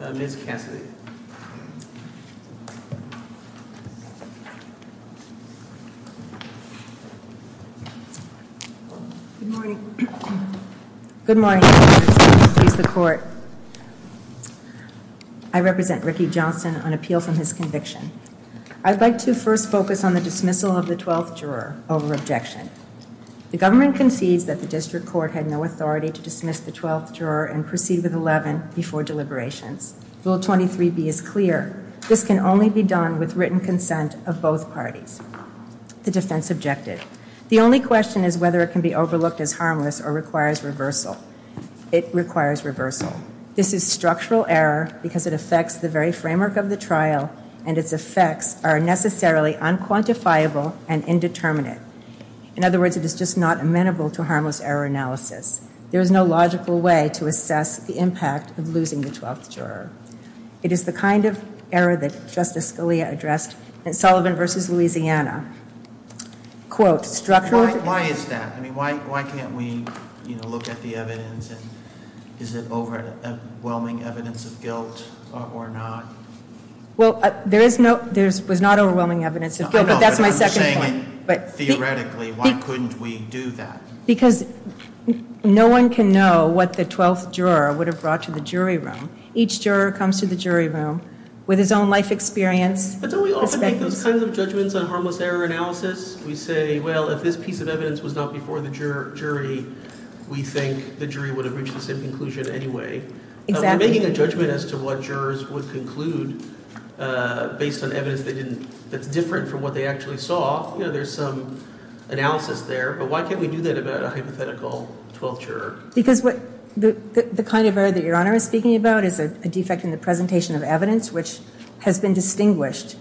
Mrs. Cassidy Good morning. Good morning. I represent Ricky Johnson on appeal from his conviction. I'd like to first focus on the dismissal of the 12th juror over objection. The government concedes that the district court had no authority to dismiss the 12th juror and proceed with 11 before deliberations. Rule 23B is clear. This can only be done with written consent of both parties. The defense objected. The only question is whether it can be overlooked as harmless or requires reversal. It requires reversal. This is structural error because it affects the very framework of the trial and its effects are necessarily unquantifiable and indeterminate. In other words, it is just not amenable to harmless error analysis. There is no logical way to assess the impact of losing the 12th juror. It is the kind of error that Justice Scalia addressed in Sullivan v. Louisiana. Why is that? Why can't we look at the evidence? Is it overwhelming evidence of guilt or not? There was not overwhelming evidence of guilt, but that's my second point. Theoretically, why couldn't we do that? Because no one can know what the 12th juror would have brought to the jury room. Each juror comes to the jury room with his own life experience. But don't we often make those kinds of judgments on harmless error analysis? We say, well, if this piece of evidence was not before the jury, we think the jury would have reached the same conclusion anyway. Exactly. We're making a judgment as to what jurors would conclude based on evidence that's different from what they actually saw. There's some analysis there, but why can't we do that about a hypothetical 12th juror? Because the kind of error that Your Honor is speaking about is a defect in the presentation of evidence, which has been distinguished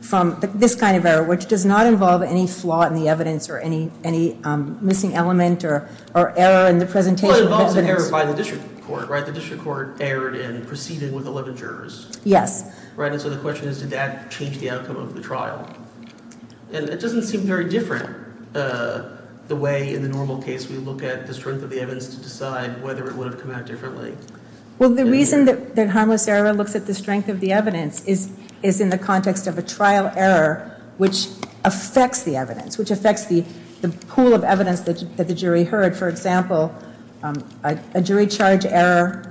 from this kind of error, which does not involve any flaw in the evidence or any missing element or error in the presentation of evidence. Well, it involves an error by the district court, right? The district court erred in proceeding with 11 jurors. Yes. Right, and so the question is did that change the outcome of the trial? And it doesn't seem very different the way in the normal case we look at the strength of the evidence to decide whether it would have come out differently. Well, the reason that harmless error looks at the strength of the evidence is in the context of a trial error which affects the evidence, which affects the pool of evidence that the jury heard. For example, a jury charge error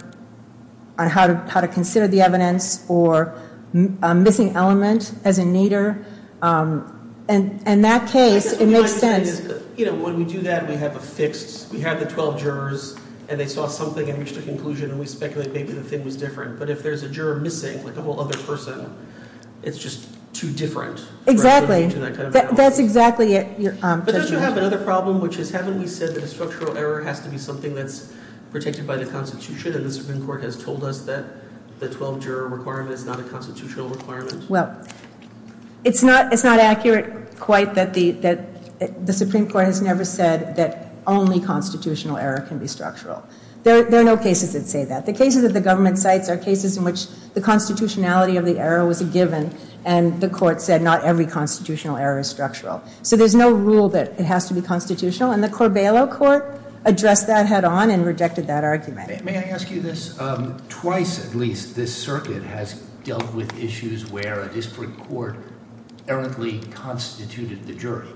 on how to consider the evidence or a missing element as a needer. And in that case, it makes sense. You know, when we do that, we have a fixed, we have the 12 jurors, and they saw something and reached a conclusion, and we speculate maybe the thing was different. But if there's a juror missing, like a whole other person, it's just too different. Exactly. That's exactly it. But don't you have another problem, which is haven't we said that a structural error has to be something that's protected by the Constitution, and the Supreme Court has told us that the 12 juror requirement is not a constitutional requirement? Well, it's not accurate quite that the Supreme Court has never said that only constitutional error can be structural. There are no cases that say that. The cases that the government cites are cases in which the constitutionality of the error was a given, and the court said not every constitutional error is structural. So there's no rule that it has to be constitutional, and the Corbello Court addressed that head on and rejected that argument. May I ask you this? Twice, at least, this circuit has dealt with issues where a district court errantly constituted the jury.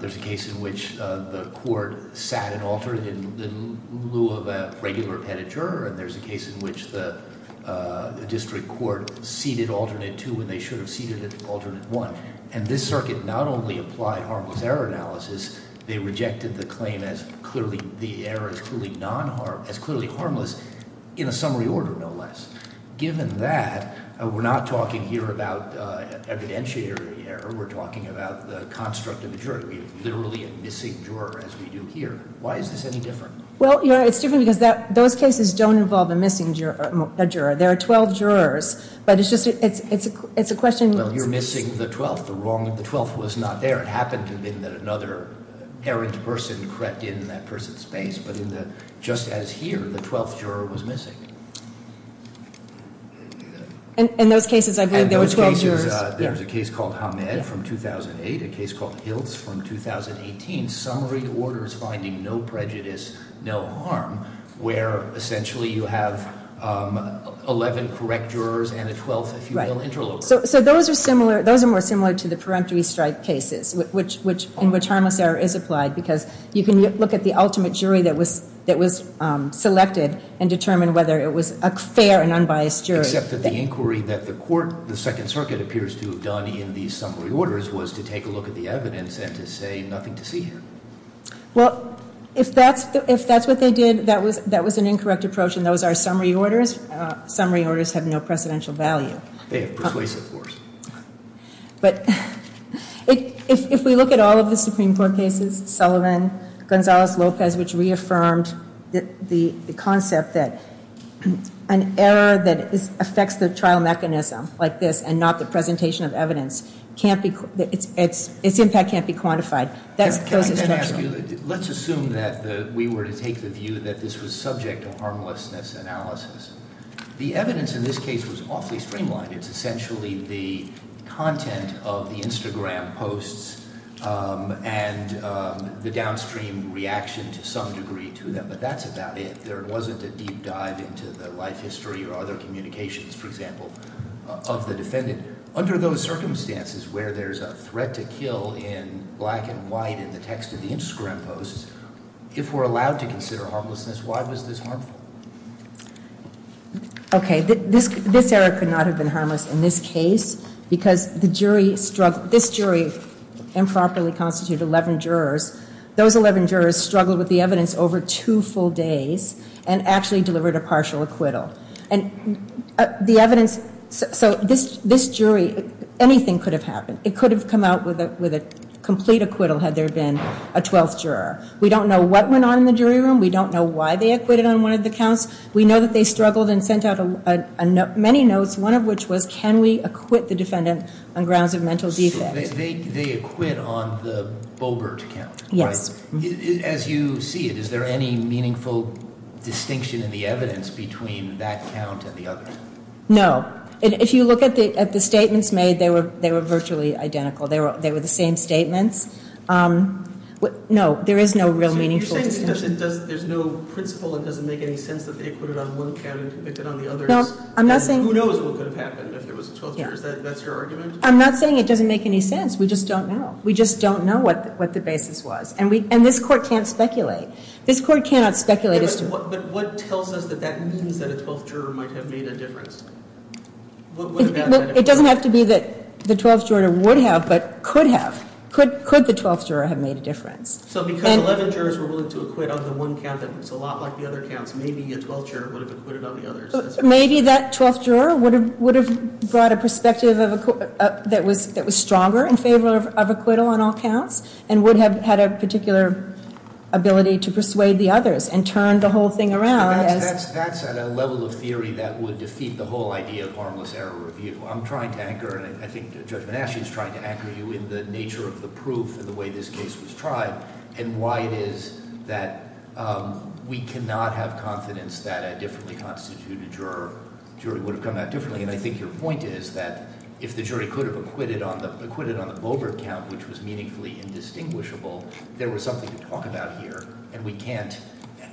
There's a case in which the court sat an alternate in lieu of a regular appended juror, and there's a case in which the district court seated alternate two when they should have seated alternate one. And this circuit not only applied harmless error analysis, they rejected the claim as clearly harmless in a summary order, no less. Given that, we're not talking here about evidentiary error, we're talking about the construct of a jury. We have literally a missing juror, as we do here. Why is this any different? Well, it's different because those cases don't involve a missing juror. There are 12 jurors, but it's a question- Well, you're missing the 12th. The 12th was not there. It happened to have been that another errant person crept in in that person's space, but just as here, the 12th juror was missing. In those cases, I believe there were 12 jurors. There's a case called Hamed from 2008, a case called Hiltz from 2018, summary orders finding no prejudice, no harm, where essentially you have 11 correct jurors and a 12th, if you will, interlocutor. So those are more similar to the peremptory strike cases, in which harmless error is applied, because you can look at the ultimate jury that was selected and determine whether it was a fair and unbiased jury. Except that the inquiry that the court, the Second Circuit, appears to have done in these summary orders was to take a look at the evidence and to say nothing to see here. Well, if that's what they did, that was an incorrect approach, and those are summary orders. Summary orders have no precedential value. They have persuasive force. But if we look at all of the Supreme Court cases, Sullivan, Gonzalez-Lopez, which reaffirmed the concept that an error that affects the trial mechanism, like this, and not the presentation of evidence, its impact can't be quantified. Let's assume that we were to take the view that this was subject to harmlessness analysis. The evidence in this case was awfully streamlined. It's essentially the content of the Instagram posts and the downstream reaction to some degree to them. But that's about it. There wasn't a deep dive into the life history or other communications, for example, of the defendant. Under those circumstances where there's a threat to kill in black and white in the text of the Instagram posts, if we're allowed to consider harmlessness, why was this harmful? Okay. This error could not have been harmless in this case because this jury improperly constituted 11 jurors. Those 11 jurors struggled with the evidence over two full days and actually delivered a partial acquittal. So this jury, anything could have happened. It could have come out with a complete acquittal had there been a 12th juror. We don't know what went on in the jury room. We don't know why they acquitted on one of the counts. We know that they struggled and sent out many notes, one of which was, can we acquit the defendant on grounds of mental defect? They acquit on the Bulbert count, right? Yes. As you see it, is there any meaningful distinction in the evidence between that count and the others? No. If you look at the statements made, they were virtually identical. They were the same statements. No, there is no real meaningful distinction. So you're saying there's no principle, it doesn't make any sense that they acquitted on one count and convicted on the others. Who knows what could have happened if there was a 12th juror? That's your argument? I'm not saying it doesn't make any sense. We just don't know. We just don't know what the basis was. And this court can't speculate. This court cannot speculate as to what – It doesn't have to be that the 12th juror would have, but could have. Could the 12th juror have made a difference? So because 11 jurors were willing to acquit on the one count that looks a lot like the other counts, maybe a 12th juror would have acquitted on the others. Maybe that 12th juror would have brought a perspective that was stronger in favor of acquittal on all counts and would have had a particular ability to persuade the others and turned the whole thing around. That's at a level of theory that would defeat the whole idea of harmless error review. I'm trying to anchor, and I think Judge Banasch is trying to anchor you in the nature of the proof and the way this case was tried and why it is that we cannot have confidence that a differently constituted jury would have come out differently. And I think your point is that if the jury could have acquitted on the Bobert count, which was meaningfully indistinguishable, there was something to talk about here, and we can't.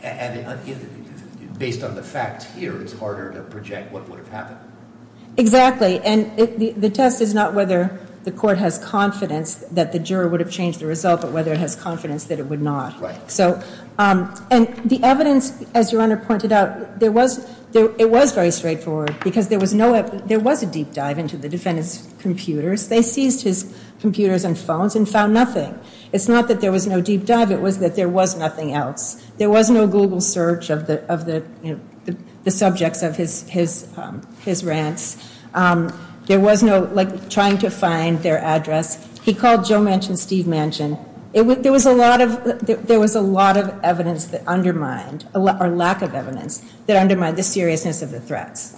And based on the facts here, it's harder to project what would have happened. Exactly. And the test is not whether the court has confidence that the juror would have changed the result, but whether it has confidence that it would not. Right. And the evidence, as Your Honor pointed out, it was very straightforward because there was a deep dive into the defendant's computers. They seized his computers and phones and found nothing. It's not that there was no deep dive, it was that there was nothing else. There was no Google search of the subjects of his rants. There was no, like, trying to find their address. He called Joe Manchin, Steve Manchin. There was a lot of evidence that undermined, or lack of evidence, that undermined the seriousness of the threats.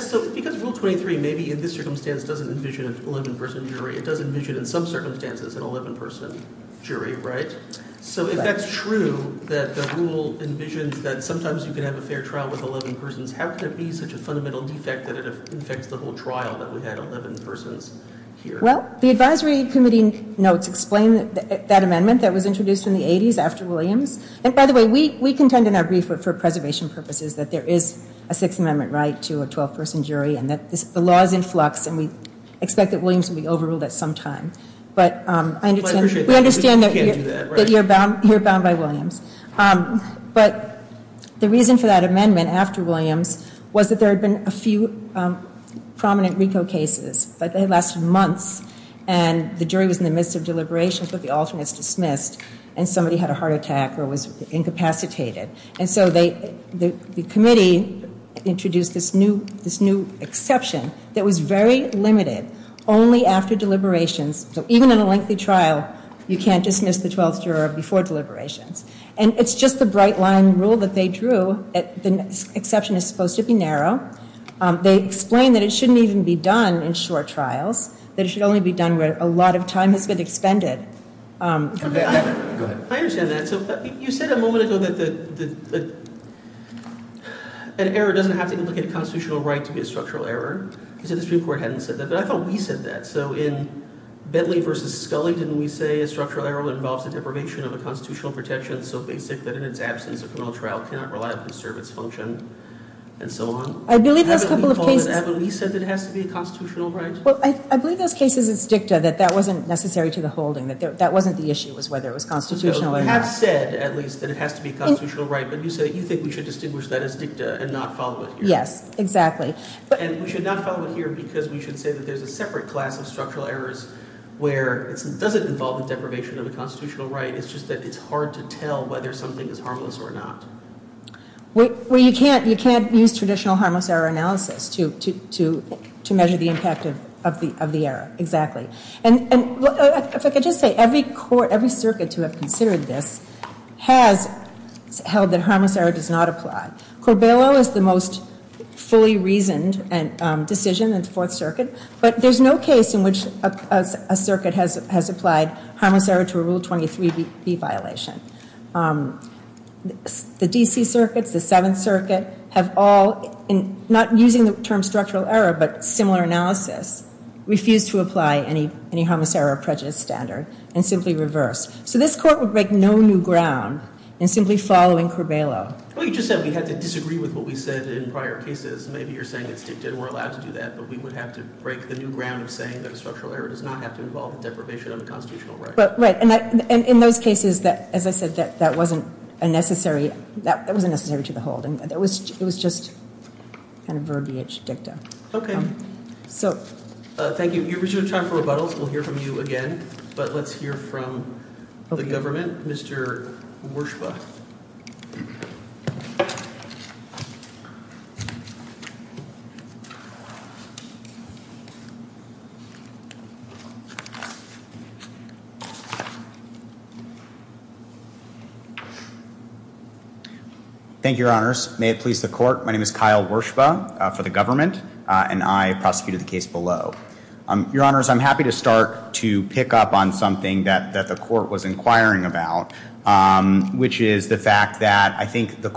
So because Rule 23 maybe in this circumstance doesn't envision an 11-person jury, it does envision in some circumstances an 11-person jury, right? So if that's true, that the rule envisions that sometimes you can have a fair trial with 11 persons, how could it be such a fundamental defect that it affects the whole trial that we had 11 persons here? Well, the advisory committee notes explain that amendment that was introduced in the 80s after Williams. And by the way, we contend in our brief for preservation purposes that there is a Sixth Amendment right to a 12-person jury and that the law is in flux and we expect that Williams will be overruled at some time. But we understand that you're bound by Williams. But the reason for that amendment after Williams was that there had been a few prominent RICO cases. But they lasted months and the jury was in the midst of deliberations, but the alternates dismissed and somebody had a heart attack or was incapacitated. And so the committee introduced this new exception that was very limited only after deliberations. So even in a lengthy trial, you can't dismiss the 12th juror before deliberations. And it's just the bright-line rule that they drew that the exception is supposed to be narrow. They explained that it shouldn't even be done in short trials. That it should only be done where a lot of time has been expended. Go ahead. I understand that. So you said a moment ago that an error doesn't have to implicate a constitutional right to be a structural error. You said the Supreme Court hadn't said that. But I thought we said that. So in Bentley v. Scully, didn't we say a structural error involves the deprivation of a constitutional protection so basic that in its absence a criminal trial cannot reliably serve its function, and so on? I believe those couple of cases- Haven't we said that it has to be a constitutional right? Well, I believe those cases, it's dicta, that that wasn't necessary to the holding. That wasn't the issue was whether it was constitutional or not. You have said, at least, that it has to be a constitutional right. But you said you think we should distinguish that as dicta and not follow it here. Yes, exactly. And we should not follow it here because we should say that there's a separate class of structural errors where it doesn't involve the deprivation of a constitutional right. It's just that it's hard to tell whether something is harmless or not. Well, you can't use traditional harmless error analysis to measure the impact of the error, exactly. And if I could just say, every circuit to have considered this has held that harmless error does not apply. Corbello is the most fully reasoned decision in the Fourth Circuit. But there's no case in which a circuit has applied harmless error to a Rule 23b violation. The D.C. circuits, the Seventh Circuit, have all, not using the term structural error but similar analysis, refused to apply any harmless error or prejudice standard and simply reversed. So this Court would break no new ground in simply following Corbello. Well, you just said we had to disagree with what we said in prior cases. And maybe you're saying it's dictated and we're allowed to do that. But we would have to break the new ground of saying that a structural error does not have to involve deprivation of a constitutional right. Right. And in those cases, as I said, that wasn't necessary to the whole. It was just kind of verbiage dicta. Okay. So. Thank you. You've reached your time for rebuttals. We'll hear from you again. But let's hear from the government. Mr. Werschba. Thank you, Your Honors. May it please the Court. My name is Kyle Werschba for the government, and I prosecuted the case below. Your Honors, I'm happy to start to pick up on something that the Court was inquiring about, which is the fact that I think this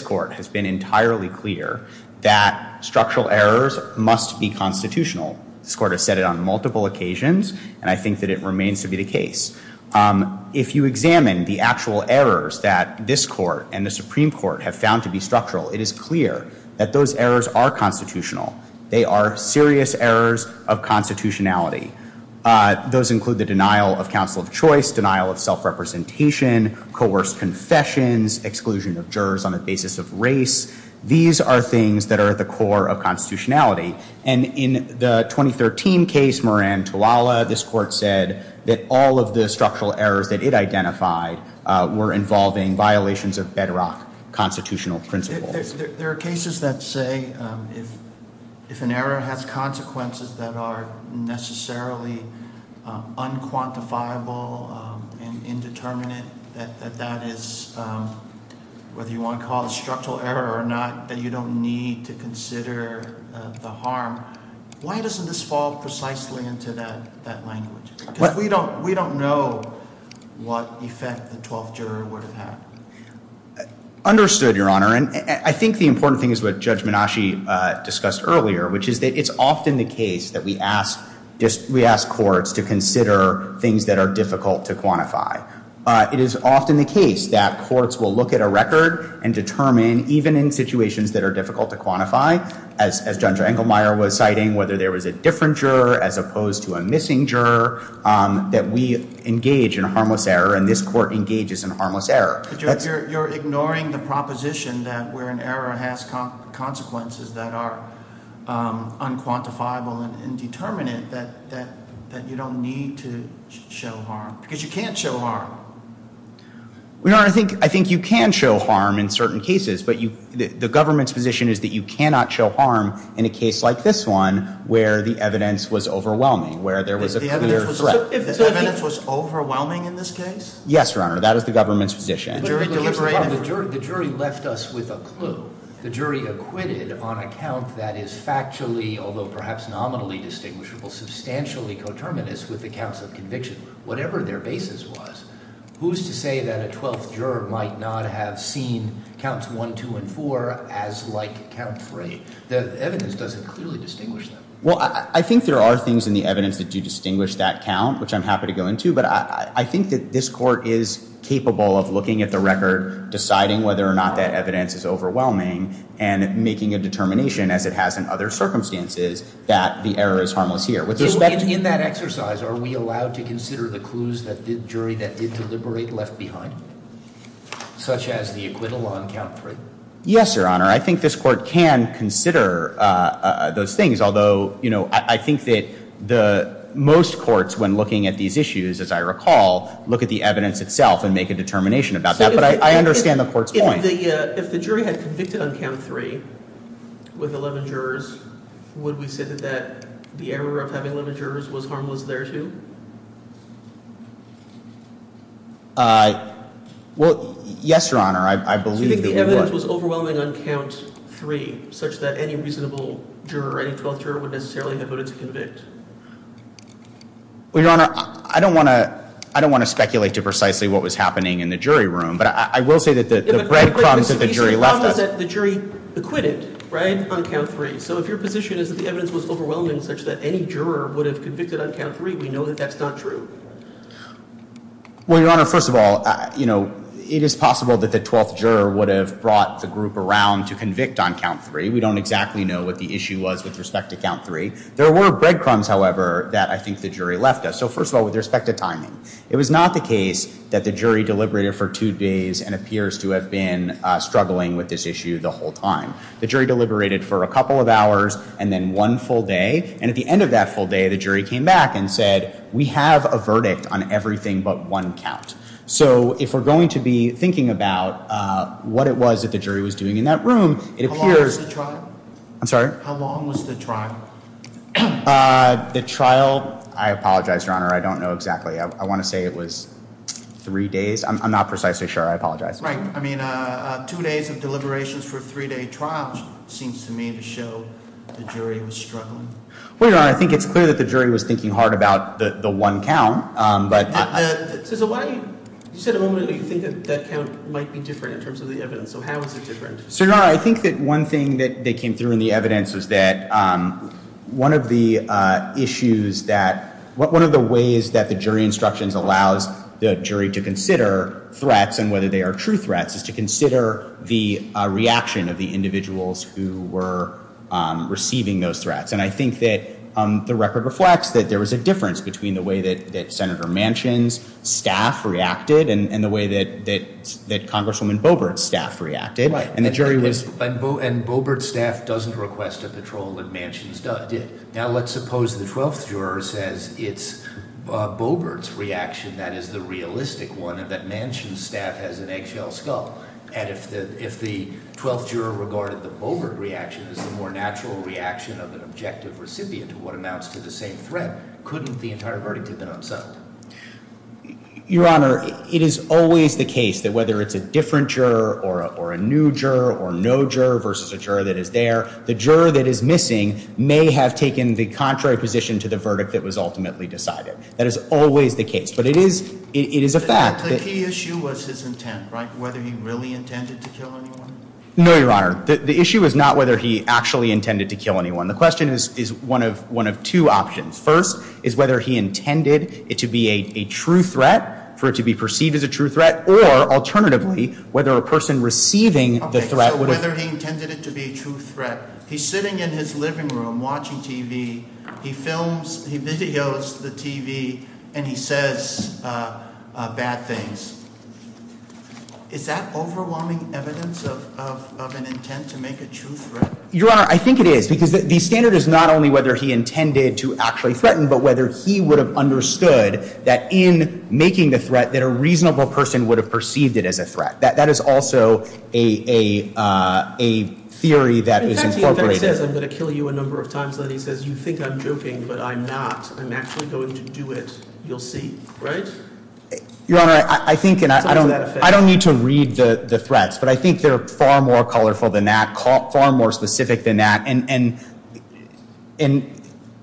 Court has been entirely clear that structural errors must be constitutional. This Court has said it on multiple occasions, and I think that it remains to be the case. If you examine the actual errors that this Court and the Supreme Court have found to be structural, it is clear that those errors are constitutional. They are serious errors of constitutionality. Those include the denial of counsel of choice, denial of self-representation, coerced confessions, exclusion of jurors on the basis of race. These are things that are at the core of constitutionality. And in the 2013 case, Moran-Tawala, this Court said that all of the structural errors that it identified were involving violations of bedrock constitutional principles. There are cases that say if an error has consequences that are necessarily unquantifiable and indeterminate, that that is, whether you want to call it a structural error or not, that you don't need to consider the harm. Why doesn't this fall precisely into that language? Because we don't know what effect the twelfth juror would have had. Understood, Your Honor. And I think the important thing is what Judge Minashi discussed earlier, which is that it's often the case that we ask courts to consider things that are difficult to quantify. It is often the case that courts will look at a record and determine, even in situations that are difficult to quantify, as Judge Engelmeyer was citing, whether there was a different juror as opposed to a missing juror, that we engage in harmless error and this Court engages in harmless error. But you're ignoring the proposition that where an error has consequences that are unquantifiable and indeterminate, that you don't need to show harm, because you can't show harm. Your Honor, I think you can show harm in certain cases, but the government's position is that you cannot show harm in a case like this one, where the evidence was overwhelming, where there was a clear threat. The evidence was overwhelming in this case? Yes, Your Honor. That is the government's position. The jury left us with a clue. The jury acquitted on a count that is factually, although perhaps nominally distinguishable, substantially coterminous with the counts of conviction, whatever their basis was. Who's to say that a twelfth juror might not have seen counts 1, 2, and 4 as like count 3? The evidence doesn't clearly distinguish them. Well, I think there are things in the evidence that do distinguish that count, which I'm happy to go into, but I think that this court is capable of looking at the record, deciding whether or not that evidence is overwhelming, and making a determination, as it has in other circumstances, that the error is harmless here. In that exercise, are we allowed to consider the clues that the jury that did deliberate left behind, such as the acquittal on count 3? Yes, Your Honor. I think this court can consider those things, although I think that most courts, when looking at these issues, as I recall, look at the evidence itself and make a determination about that. But I understand the court's point. If the jury had convicted on count 3 with 11 jurors, would we say that the error of having 11 jurors was harmless thereto? Well, yes, Your Honor. I believe that we would. If the evidence was overwhelming on count 3, such that any reasonable juror, any 12th juror, would necessarily have voted to convict? Well, Your Honor, I don't want to speculate to precisely what was happening in the jury room, but I will say that the breadcrumbs that the jury left us. The problem is that the jury acquitted, right, on count 3. So if your position is that the evidence was overwhelming, such that any juror would have convicted on count 3, we know that that's not true. Well, Your Honor, first of all, you know, it is possible that the 12th juror would have brought the group around to convict on count 3. We don't exactly know what the issue was with respect to count 3. There were breadcrumbs, however, that I think the jury left us. So first of all, with respect to timing, it was not the case that the jury deliberated for two days and appears to have been struggling with this issue the whole time. The jury deliberated for a couple of hours and then one full day, and at the end of that full day, the jury came back and said, we have a verdict on everything but one count. So if we're going to be thinking about what it was that the jury was doing in that room, it appears— How long was the trial? I'm sorry? How long was the trial? The trial—I apologize, Your Honor, I don't know exactly. I want to say it was three days. I'm not precisely sure. I apologize. Right. I mean, two days of deliberations for a three-day trial seems to me to show the jury was struggling. Well, Your Honor, I think it's clear that the jury was thinking hard about the one count, but— So why—you said a moment ago you think that that count might be different in terms of the evidence. So how is it different? So, Your Honor, I think that one thing that they came through in the evidence was that one of the issues that—one of the ways that the jury instructions allows the jury to consider threats and whether they are true threats is to consider the reaction of the individuals who were receiving those threats. And I think that the record reflects that there was a difference between the way that Senator Manchin's staff reacted and the way that Congresswoman Boebert's staff reacted. Right. And the jury was— And Boebert's staff doesn't request a patrol like Manchin's staff did. Now, let's suppose the twelfth juror says it's Boebert's reaction that is the realistic one, and that Manchin's staff has an eggshell skull. And if the twelfth juror regarded the Boebert reaction as the more natural reaction of an objective recipient to what amounts to the same threat, couldn't the entire verdict have been upset? Your Honor, it is always the case that whether it's a different juror or a new juror or no juror versus a juror that is there, the juror that is missing may have taken the contrary position to the verdict that was ultimately decided. That is always the case. But it is a fact that— No, Your Honor. The issue is not whether he actually intended to kill anyone. The question is one of two options. First is whether he intended it to be a true threat, for it to be perceived as a true threat, or, alternatively, whether a person receiving the threat would have— Okay, so whether he intended it to be a true threat. He's sitting in his living room watching TV. He films—he videos the TV, and he says bad things. Is that overwhelming evidence of an intent to make a true threat? Your Honor, I think it is because the standard is not only whether he intended to actually threaten, but whether he would have understood that in making the threat that a reasonable person would have perceived it as a threat. That is also a theory that is incorporated. In fact, the effect says, I'm going to kill you a number of times. Then he says, you think I'm joking, but I'm not. I'm actually going to do it. You'll see. Right? Your Honor, I think— I don't need to read the threats, but I think they're far more colorful than that, far more specific than that. And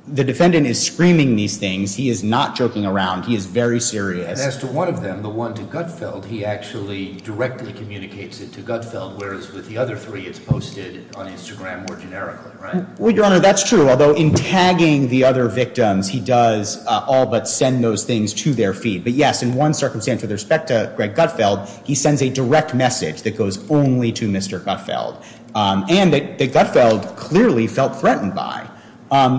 the defendant is screaming these things. He is not joking around. He is very serious. As to one of them, the one to Gutfeld, he actually directly communicates it to Gutfeld, whereas with the other three, it's posted on Instagram more generically, right? Well, Your Honor, that's true, although in tagging the other victims, he does all but send those things to their feed. But, yes, in one circumstance with respect to Greg Gutfeld, he sends a direct message that goes only to Mr. Gutfeld, and that Gutfeld clearly felt threatened by.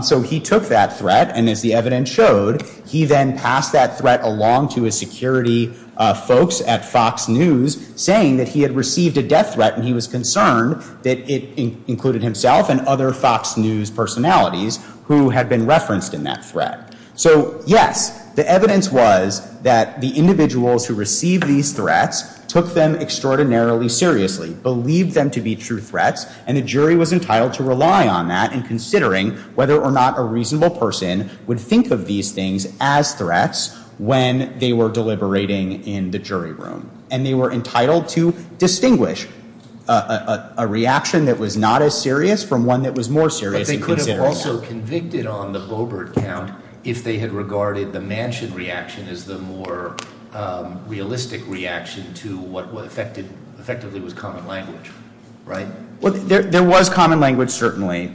So he took that threat, and as the evidence showed, he then passed that threat along to his security folks at Fox News, saying that he had received a death threat and he was concerned that it included himself and other Fox News personalities who had been referenced in that threat. So, yes, the evidence was that the individuals who received these threats took them extraordinarily seriously, believed them to be true threats, and the jury was entitled to rely on that in considering whether or not a reasonable person would think of these things as threats when they were deliberating in the jury room. And they were entitled to distinguish a reaction that was not as serious from one that was more serious in consideration. But they could have also convicted on the Boebert count if they had regarded the Manchin reaction as the more realistic reaction to what effectively was common language, right? Well, there was common language, certainly,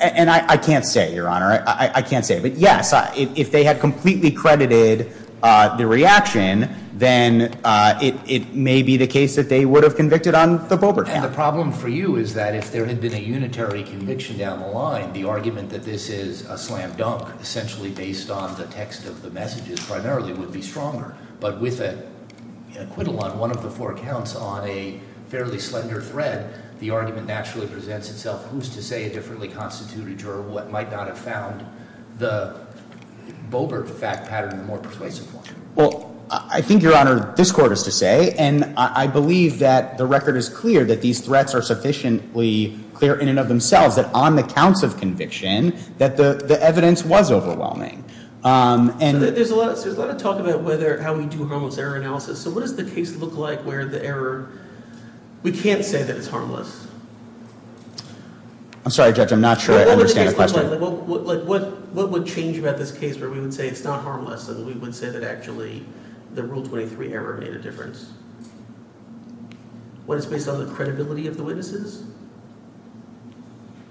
and I can't say, Your Honor, I can't say. But, yes, if they had completely credited the reaction, then it may be the case that they would have convicted on the Boebert count. And the problem for you is that if there had been a unitary conviction down the line, the argument that this is a slam dunk, essentially based on the text of the messages primarily, would be stronger. But with an acquittal on one of the four counts on a fairly slender thread, the argument naturally presents itself who's to say a differently constituted juror what might not have found the Boebert fact pattern the more persuasive one. Well, I think, Your Honor, this court is to say, and I believe that the record is clear that these threats are sufficiently clear in and of themselves that on the counts of conviction that the evidence was overwhelming. So there's a lot of talk about how we do harmless error analysis. So what does the case look like where the error, we can't say that it's harmless. I'm sorry, Judge, I'm not sure I understand the question. What would the case look like? What would change about this case where we would say it's not harmless and we would say that actually the Rule 23 error made a difference? What is based on the credibility of the witnesses?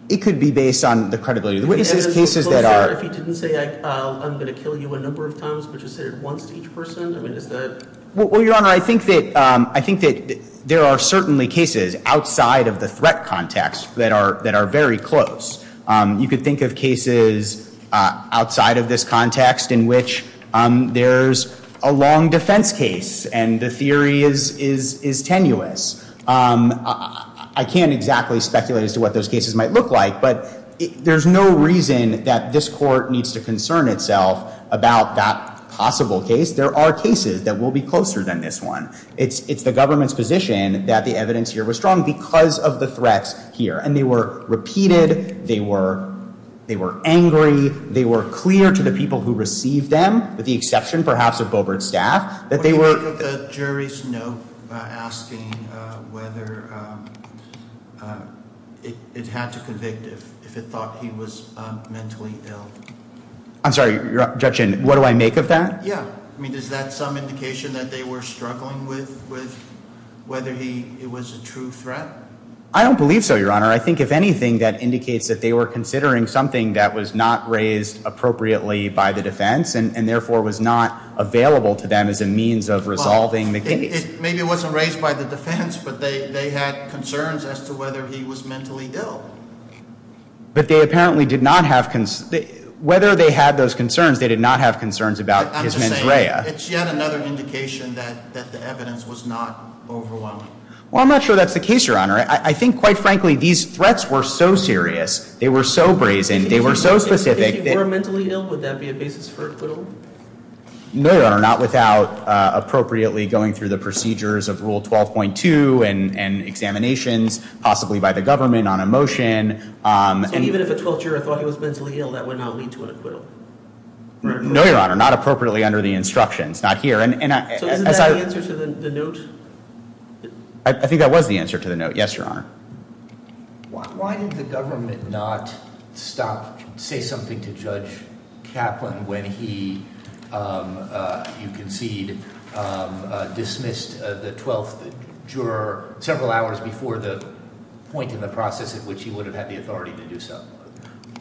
It could be based on the credibility of the witnesses. The witnesses' cases that are If you didn't say I'm going to kill you a number of times, but you said it once to each person, I mean, is that Well, Your Honor, I think that there are certainly cases outside of the threat context that are very close. You could think of cases outside of this context in which there's a long defense case and the theory is tenuous. I can't exactly speculate as to what those cases might look like, but there's no reason that this court needs to concern itself about that possible case. There are cases that will be closer than this one. It's the government's position that the evidence here was strong because of the threats here. And they were repeated. They were angry. They were clear to the people who received them, with the exception perhaps of Boebert's staff, that they were What do you make of the jury's note asking whether it had to convict if it thought he was mentally ill? I'm sorry, Judge, what do I make of that? Yeah, I mean, is that some indication that they were struggling with whether it was a true threat? I don't believe so, Your Honor. I think if anything, that indicates that they were considering something that was not raised appropriately by the defense and therefore was not available to them as a means of resolving the case. Maybe it wasn't raised by the defense, but they had concerns as to whether he was mentally ill. But they apparently did not have concerns. Whether they had those concerns, they did not have concerns about his mens rea. It's yet another indication that the evidence was not overwhelming. Well, I'm not sure that's the case, Your Honor. I think, quite frankly, these threats were so serious. They were so brazen. They were so specific. If he were mentally ill, would that be a basis for acquittal? No, Your Honor, not without appropriately going through the procedures of Rule 12.2 and examinations possibly by the government on a motion. And even if a 12th juror thought he was mentally ill, that would not lead to an acquittal? No, Your Honor, not appropriately under the instructions, not here. So isn't that the answer to the note? I think that was the answer to the note. Yes, Your Honor. Why did the government not stop, say something to Judge Kaplan when he, you concede, dismissed the 12th juror several hours before the point in the process at which he would have had the authority to do so?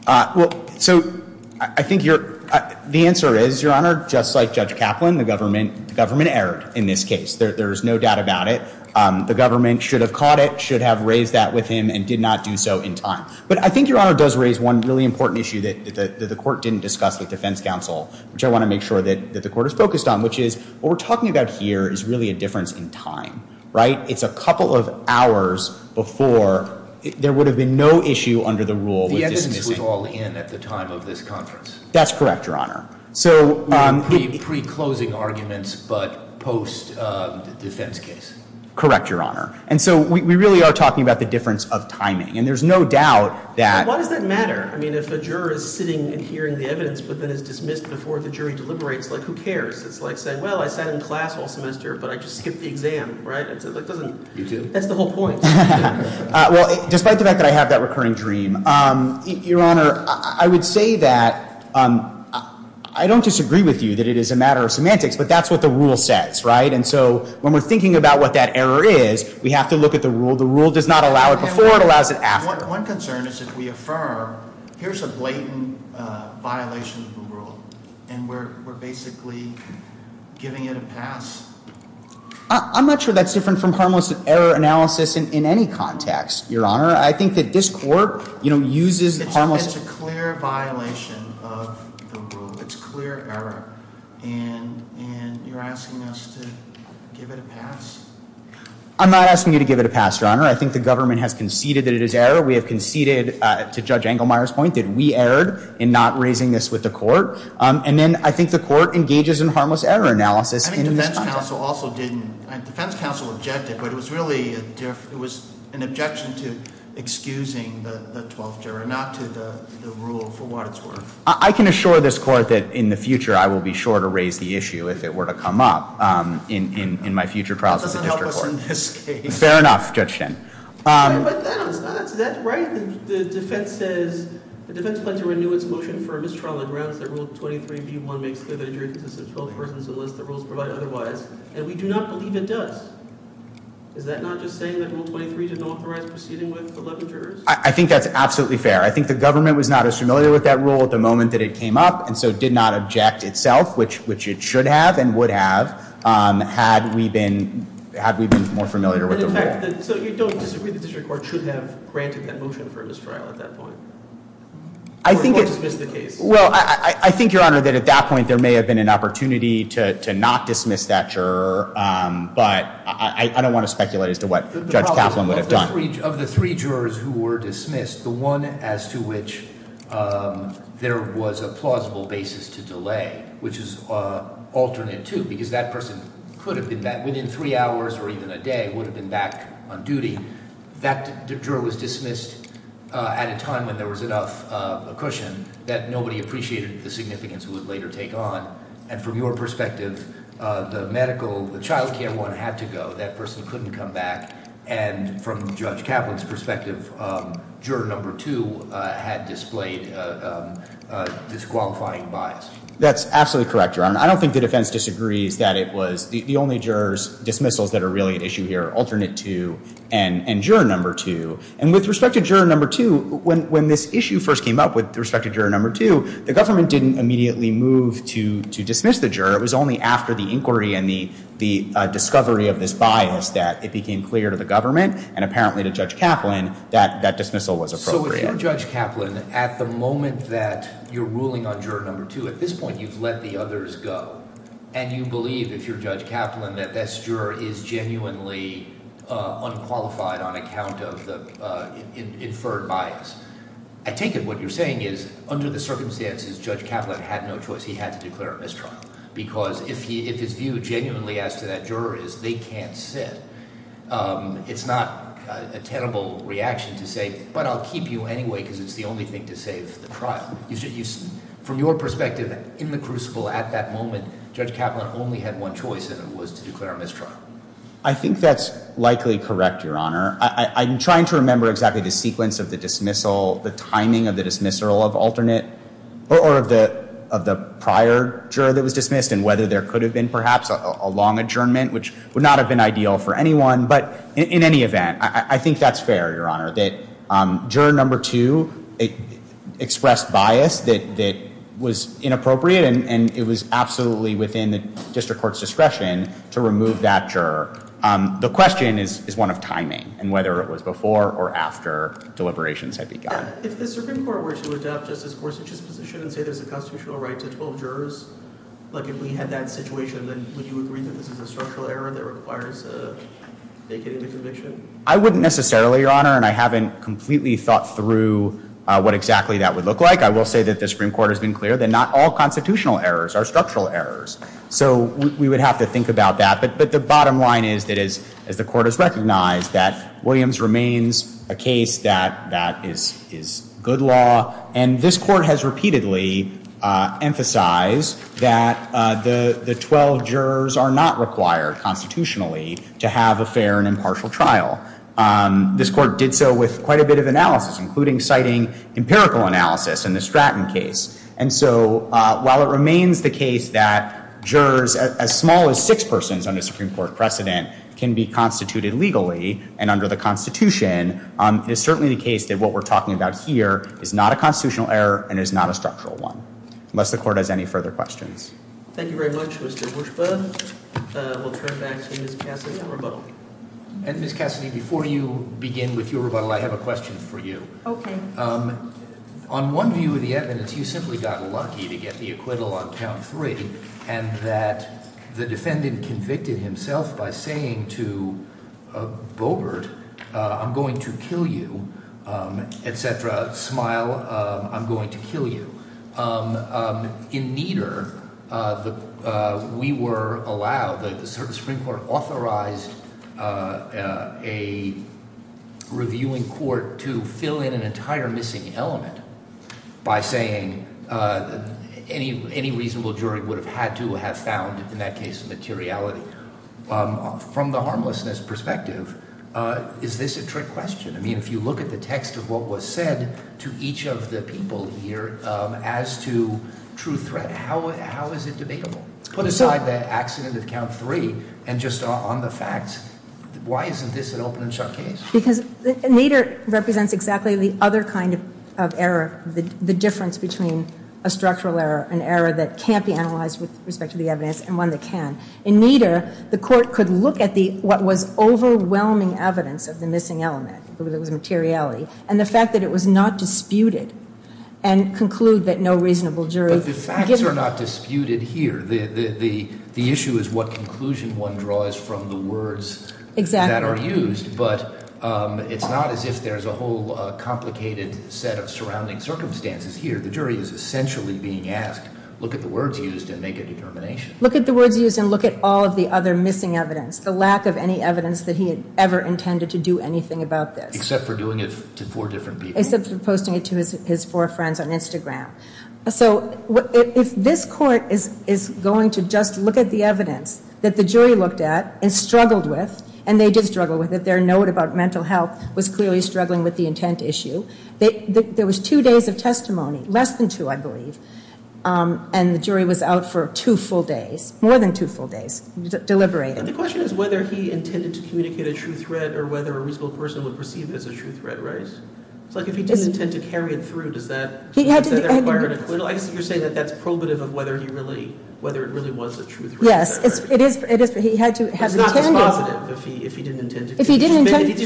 Well, so I think the answer is, Your Honor, just like Judge Kaplan, the government erred in this case. There is no doubt about it. The government should have caught it, should have raised that with him, and did not do so in time. But I think, Your Honor, it does raise one really important issue that the court didn't discuss with defense counsel, which I want to make sure that the court is focused on, which is what we're talking about here is really a difference in time. Right? It's a couple of hours before there would have been no issue under the rule with dismissing. The evidence was all in at the time of this conference? That's correct, Your Honor. Pre-closing arguments, but post-defense case? Correct, Your Honor. And so we really are talking about the difference of timing. And there's no doubt that- Why does that matter? I mean, if a juror is sitting and hearing the evidence, but then is dismissed before the jury deliberates, like, who cares? It's like saying, well, I sat in class all semester, but I just skipped the exam. Right? That's the whole point. Well, despite the fact that I have that recurring dream, Your Honor, I would say that I don't disagree with you that it is a matter of semantics, but that's what the rule says, right? And so when we're thinking about what that error is, we have to look at the rule. The rule does not allow it before, it allows it after. One concern is if we affirm, here's a blatant violation of the rule, and we're basically giving it a pass. I'm not sure that's different from harmless error analysis in any context, Your Honor. I think that this court, you know, uses harmless- It's a clear violation of the rule. It's clear error. And you're asking us to give it a pass? I'm not asking you to give it a pass, Your Honor. I think the government has conceded that it is error. We have conceded, to Judge Engelmeyer's point, that we erred in not raising this with the court. And then I think the court engages in harmless error analysis in this context. The defense counsel also didn't. The defense counsel objected, but it was really an objection to excusing the 12th juror, not to the rule for what it's worth. I can assure this court that in the future I will be sure to raise the issue if it were to come up in my future trials as a district court. That doesn't help us in this case. Fair enough, Judge Shin. But that's right. The defense says the defense plans to renew its motion for a mistrial on the grounds that Rule 23b.1 makes clear that a jury consists of 12 persons unless the rules provide otherwise. And we do not believe it does. Is that not just saying that Rule 23 did not authorize proceeding with 11 jurors? I think that's absolutely fair. I think the government was not as familiar with that rule at the moment that it came up and so did not object itself, which it should have and would have, had we been more familiar with the rule. So you don't disagree the district court should have granted that motion for a mistrial at that point? Or dismissed the case? Well, I think, Your Honor, that at that point there may have been an opportunity to not dismiss that juror. But I don't want to speculate as to what Judge Kaplan would have done. Of the three jurors who were dismissed, the one as to which there was a plausible basis to delay, which is alternate too, because that person within three hours or even a day would have been back on duty. That juror was dismissed at a time when there was enough cushion that nobody appreciated the significance it would later take on. And from your perspective, the child care one had to go. That person couldn't come back. And from Judge Kaplan's perspective, juror number two had displayed disqualifying bias. That's absolutely correct, Your Honor. I don't think the defense disagrees that it was the only juror's dismissals that are really at issue here are alternate too and juror number two. And with respect to juror number two, when this issue first came up with respect to juror number two, the government didn't immediately move to dismiss the juror. It was only after the inquiry and the discovery of this bias that it became clear to the government and apparently to Judge Kaplan that that dismissal was appropriate. So if you're Judge Kaplan, at the moment that you're ruling on juror number two, at this point you've let the others go. And you believe, if you're Judge Kaplan, that this juror is genuinely unqualified on account of the inferred bias. I take it what you're saying is under the circumstances, Judge Kaplan had no choice. He had to declare a mistrial because if his view genuinely as to that juror is they can't sit, it's not a tenable reaction to say, but I'll keep you anyway because it's the only thing to save the trial. From your perspective in the crucible at that moment, Judge Kaplan only had one choice and it was to declare a mistrial. I think that's likely correct, Your Honor. I'm trying to remember exactly the sequence of the dismissal, the timing of the dismissal of alternate or of the prior juror that was dismissed and whether there could have been perhaps a long adjournment, which would not have been ideal for anyone. But in any event, I think that's fair, Your Honor, that juror number two expressed bias that was inappropriate and it was absolutely within the district court's discretion to remove that juror. The question is one of timing and whether it was before or after deliberations had begun. If the Supreme Court were to adopt Justice Gorsuch's position and say there's a constitutional right to 12 jurors, if we had that situation, would you agree that this is a structural error that requires vacating the conviction? I wouldn't necessarily, Your Honor, and I haven't completely thought through what exactly that would look like. I will say that the Supreme Court has been clear that not all constitutional errors are structural errors. So we would have to think about that. But the bottom line is that as the court has recognized that Williams remains a case that is good law, and this court has repeatedly emphasized that the 12 jurors are not required constitutionally to have a fair and impartial trial. This court did so with quite a bit of analysis, including citing empirical analysis in the Stratton case. And so while it remains the case that jurors as small as six persons under Supreme Court precedent can be constituted legally and under the Constitution, it is certainly the case that what we're talking about here is not a constitutional error and is not a structural one, unless the court has any further questions. Thank you very much, Mr. Gorsuch. We'll turn back to Ms. Cassidy on rebuttal. Ms. Cassidy, before you begin with your rebuttal, I have a question for you. Okay. On one view of the evidence, you simply got lucky to get the acquittal on count three and that the defendant convicted himself by saying to Boebert, I'm going to kill you, et cetera, smile, I'm going to kill you. In Nieder, we were allowed, the Supreme Court authorized a reviewing court to fill in an entire missing element by saying any reasonable jury would have had to have found, in that case, materiality. From the harmlessness perspective, is this a trick question? I mean, if you look at the text of what was said to each of the people here as to true threat, how is it debatable? Put aside the accident of count three and just on the facts, why isn't this an open and shut case? Because Nieder represents exactly the other kind of error, the difference between a structural error, an error that can't be analyzed with respect to the evidence and one that can. In Nieder, the court could look at what was overwhelming evidence of the missing element, whether it was materiality, and the fact that it was not disputed and conclude that no reasonable jury. But the facts are not disputed here. The issue is what conclusion one draws from the words that are used. Exactly. But it's not as if there's a whole complicated set of surrounding circumstances here. The jury is essentially being asked, look at the words used and make a determination. Look at the words used and look at all of the other missing evidence, the lack of any evidence that he had ever intended to do anything about this. Except for doing it to four different people. Except for posting it to his four friends on Instagram. So if this court is going to just look at the evidence that the jury looked at and struggled with, and they did struggle with it, their note about mental health was clearly struggling with the intent issue. There was two days of testimony, less than two, I believe, and the jury was out for two full days, more than two full days, deliberating. The question is whether he intended to communicate a true threat or whether a reasonable person would perceive it as a true threat, right? It's like if he didn't intend to carry it through, does that require an acquittal? I guess you're saying that that's probative of whether he really, whether it really was a true threat. Yes. It is, but he had to have intended. It's not responsive if he didn't intend to. If he did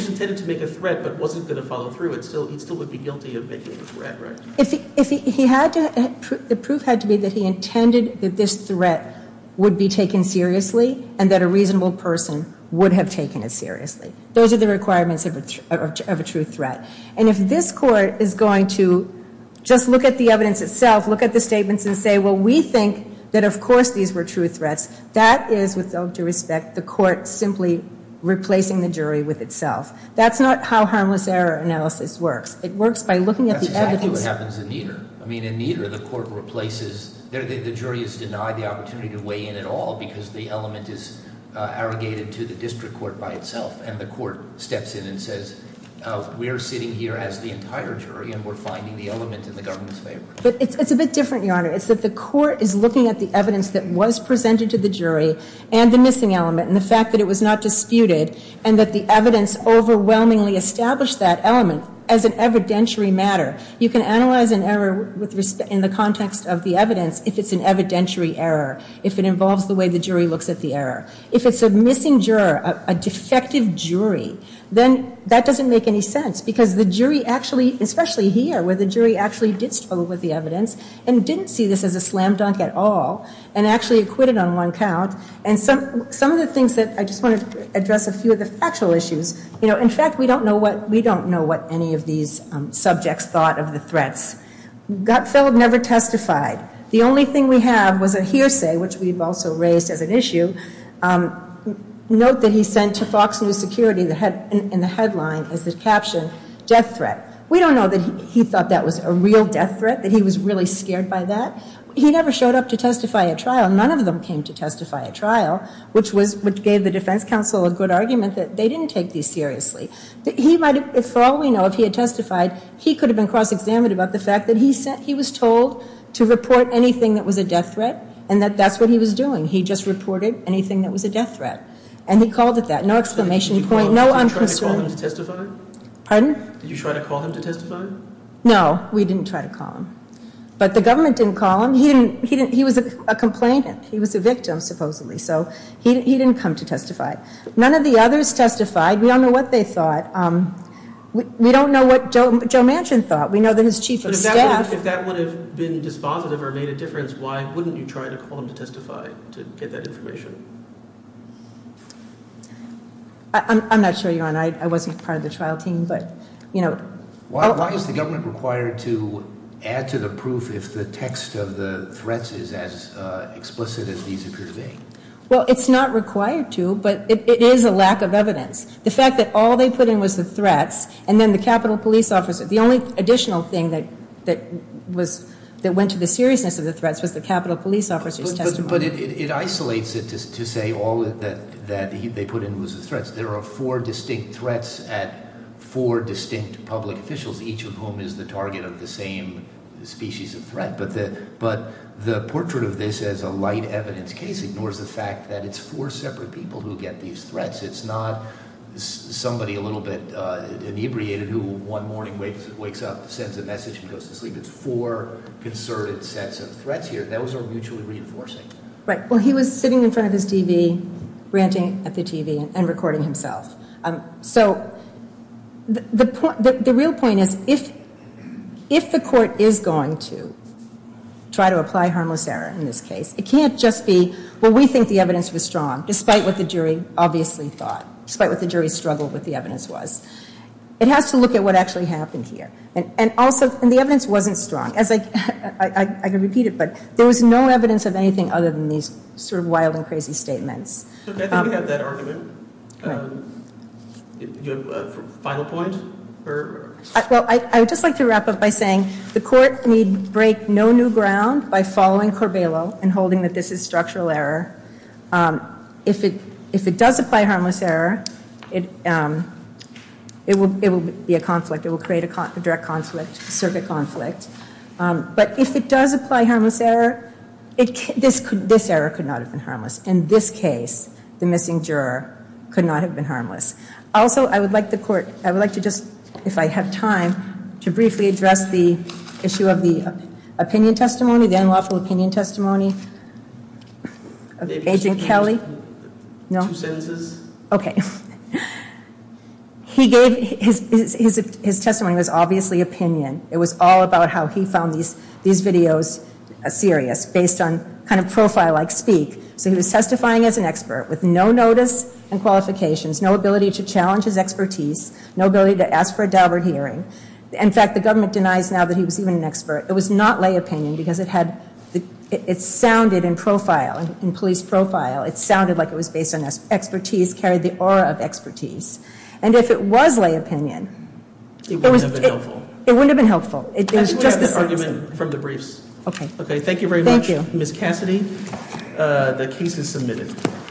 intend to make a threat but wasn't going to follow through, he still would be guilty of making a threat, right? If he had to, the proof had to be that he intended that this threat would be taken seriously and that a reasonable person would have taken it seriously. Those are the requirements of a true threat. And if this court is going to just look at the evidence itself, look at the statements and say, well, we think that of course these were true threats, that is, with all due respect, the court simply replacing the jury with itself. That's not how harmless error analysis works. It works by looking at the evidence. That's exactly what happens in Nieder. I mean, in Nieder, the court replaces, the jury is denied the opportunity to weigh in at all because the element is arrogated to the district court by itself, and the court steps in and says, we're sitting here as the entire jury and we're finding the element in the government's favor. But it's a bit different, Your Honor. It's that the court is looking at the evidence that was presented to the jury and the missing element and the fact that it was not disputed and that the evidence overwhelmingly established that element as an evidentiary matter. You can analyze an error in the context of the evidence if it's an evidentiary error, if it involves the way the jury looks at the error. If it's a missing juror, a defective jury, then that doesn't make any sense because the jury actually, especially here where the jury actually did struggle with the evidence and didn't see this as a slam dunk at all and actually acquitted on one count. And some of the things that, I just want to address a few of the factual issues. You know, in fact, we don't know what any of these subjects thought of the threats. Gutfeld never testified. The only thing we have was a hearsay, which we've also raised as an issue. Note that he sent to Fox News Security in the headline as the caption, death threat. We don't know that he thought that was a real death threat, that he was really scared by that. He never showed up to testify at trial. None of them came to testify at trial, which gave the defense counsel a good argument that they didn't take these seriously. He might have, for all we know, if he had testified, he could have been cross-examined about the fact that he was told to report anything that was a death threat and that that's what he was doing. He just reported anything that was a death threat. And he called it that. No exclamation point. No unconcern. Did you try to call him to testify? Pardon? Did you try to call him to testify? No, we didn't try to call him. But the government didn't call him. He was a complainant. He was a victim, supposedly. So he didn't come to testify. None of the others testified. We don't know what they thought. We don't know what Joe Manchin thought. We know that his chief of staff. If that would have been dispositive or made a difference, why wouldn't you try to call him to testify to get that information? I'm not sure, Your Honor. I wasn't part of the trial team, but, you know. Why is the government required to add to the proof if the text of the threats is as explicit as these appear to be? Well, it's not required to, but it is a lack of evidence. The fact that all they put in was the threats and then the Capitol Police officer, the only additional thing that went to the seriousness of the threats was the Capitol Police officer's testimony. But it isolates it to say all that they put in was the threats. There are four distinct threats at four distinct public officials, each of whom is the target of the same species of threat. But the portrait of this as a light evidence case ignores the fact that it's four separate people who get these threats. It's not somebody a little bit inebriated who one morning wakes up, sends a message, and goes to sleep. It's four concerted sets of threats here. Those are mutually reinforcing. Right. Well, he was sitting in front of his TV, ranting at the TV, and recording himself. So the real point is if the court is going to try to apply harmless error in this case, it can't just be, well, we think the evidence was strong, despite what the jury obviously thought, despite what the jury struggled with the evidence was. It has to look at what actually happened here. And the evidence wasn't strong. I can repeat it, but there was no evidence of anything other than these sort of wild and crazy statements. I think we have that argument. Do you have a final point? Well, I would just like to wrap up by saying the court need break no new ground by following Corbelo and holding that this is structural error. If it does apply harmless error, it will be a conflict. It will create a direct conflict, a circuit conflict. But if it does apply harmless error, this error could not have been harmless. In this case, the missing juror could not have been harmless. Also, I would like the court, I would like to just, if I have time, to briefly address the issue of the opinion testimony, the unlawful opinion testimony of Agent Kelly. Two sentences. Okay. He gave, his testimony was obviously opinion. It was all about how he found these videos serious based on kind of profile-like speak. So he was testifying as an expert with no notice and qualifications, no ability to challenge his expertise, no ability to ask for a deliberate hearing. In fact, the government denies now that he was even an expert. It was not lay opinion because it sounded in profile, in police profile, it sounded like it was based on expertise, carried the aura of expertise. And if it was lay opinion, it wouldn't have been helpful. It wouldn't have been helpful. I think we'll have that argument from the briefs. Okay. Okay, thank you very much. Thank you. Ms. Cassidy, the case is submitted.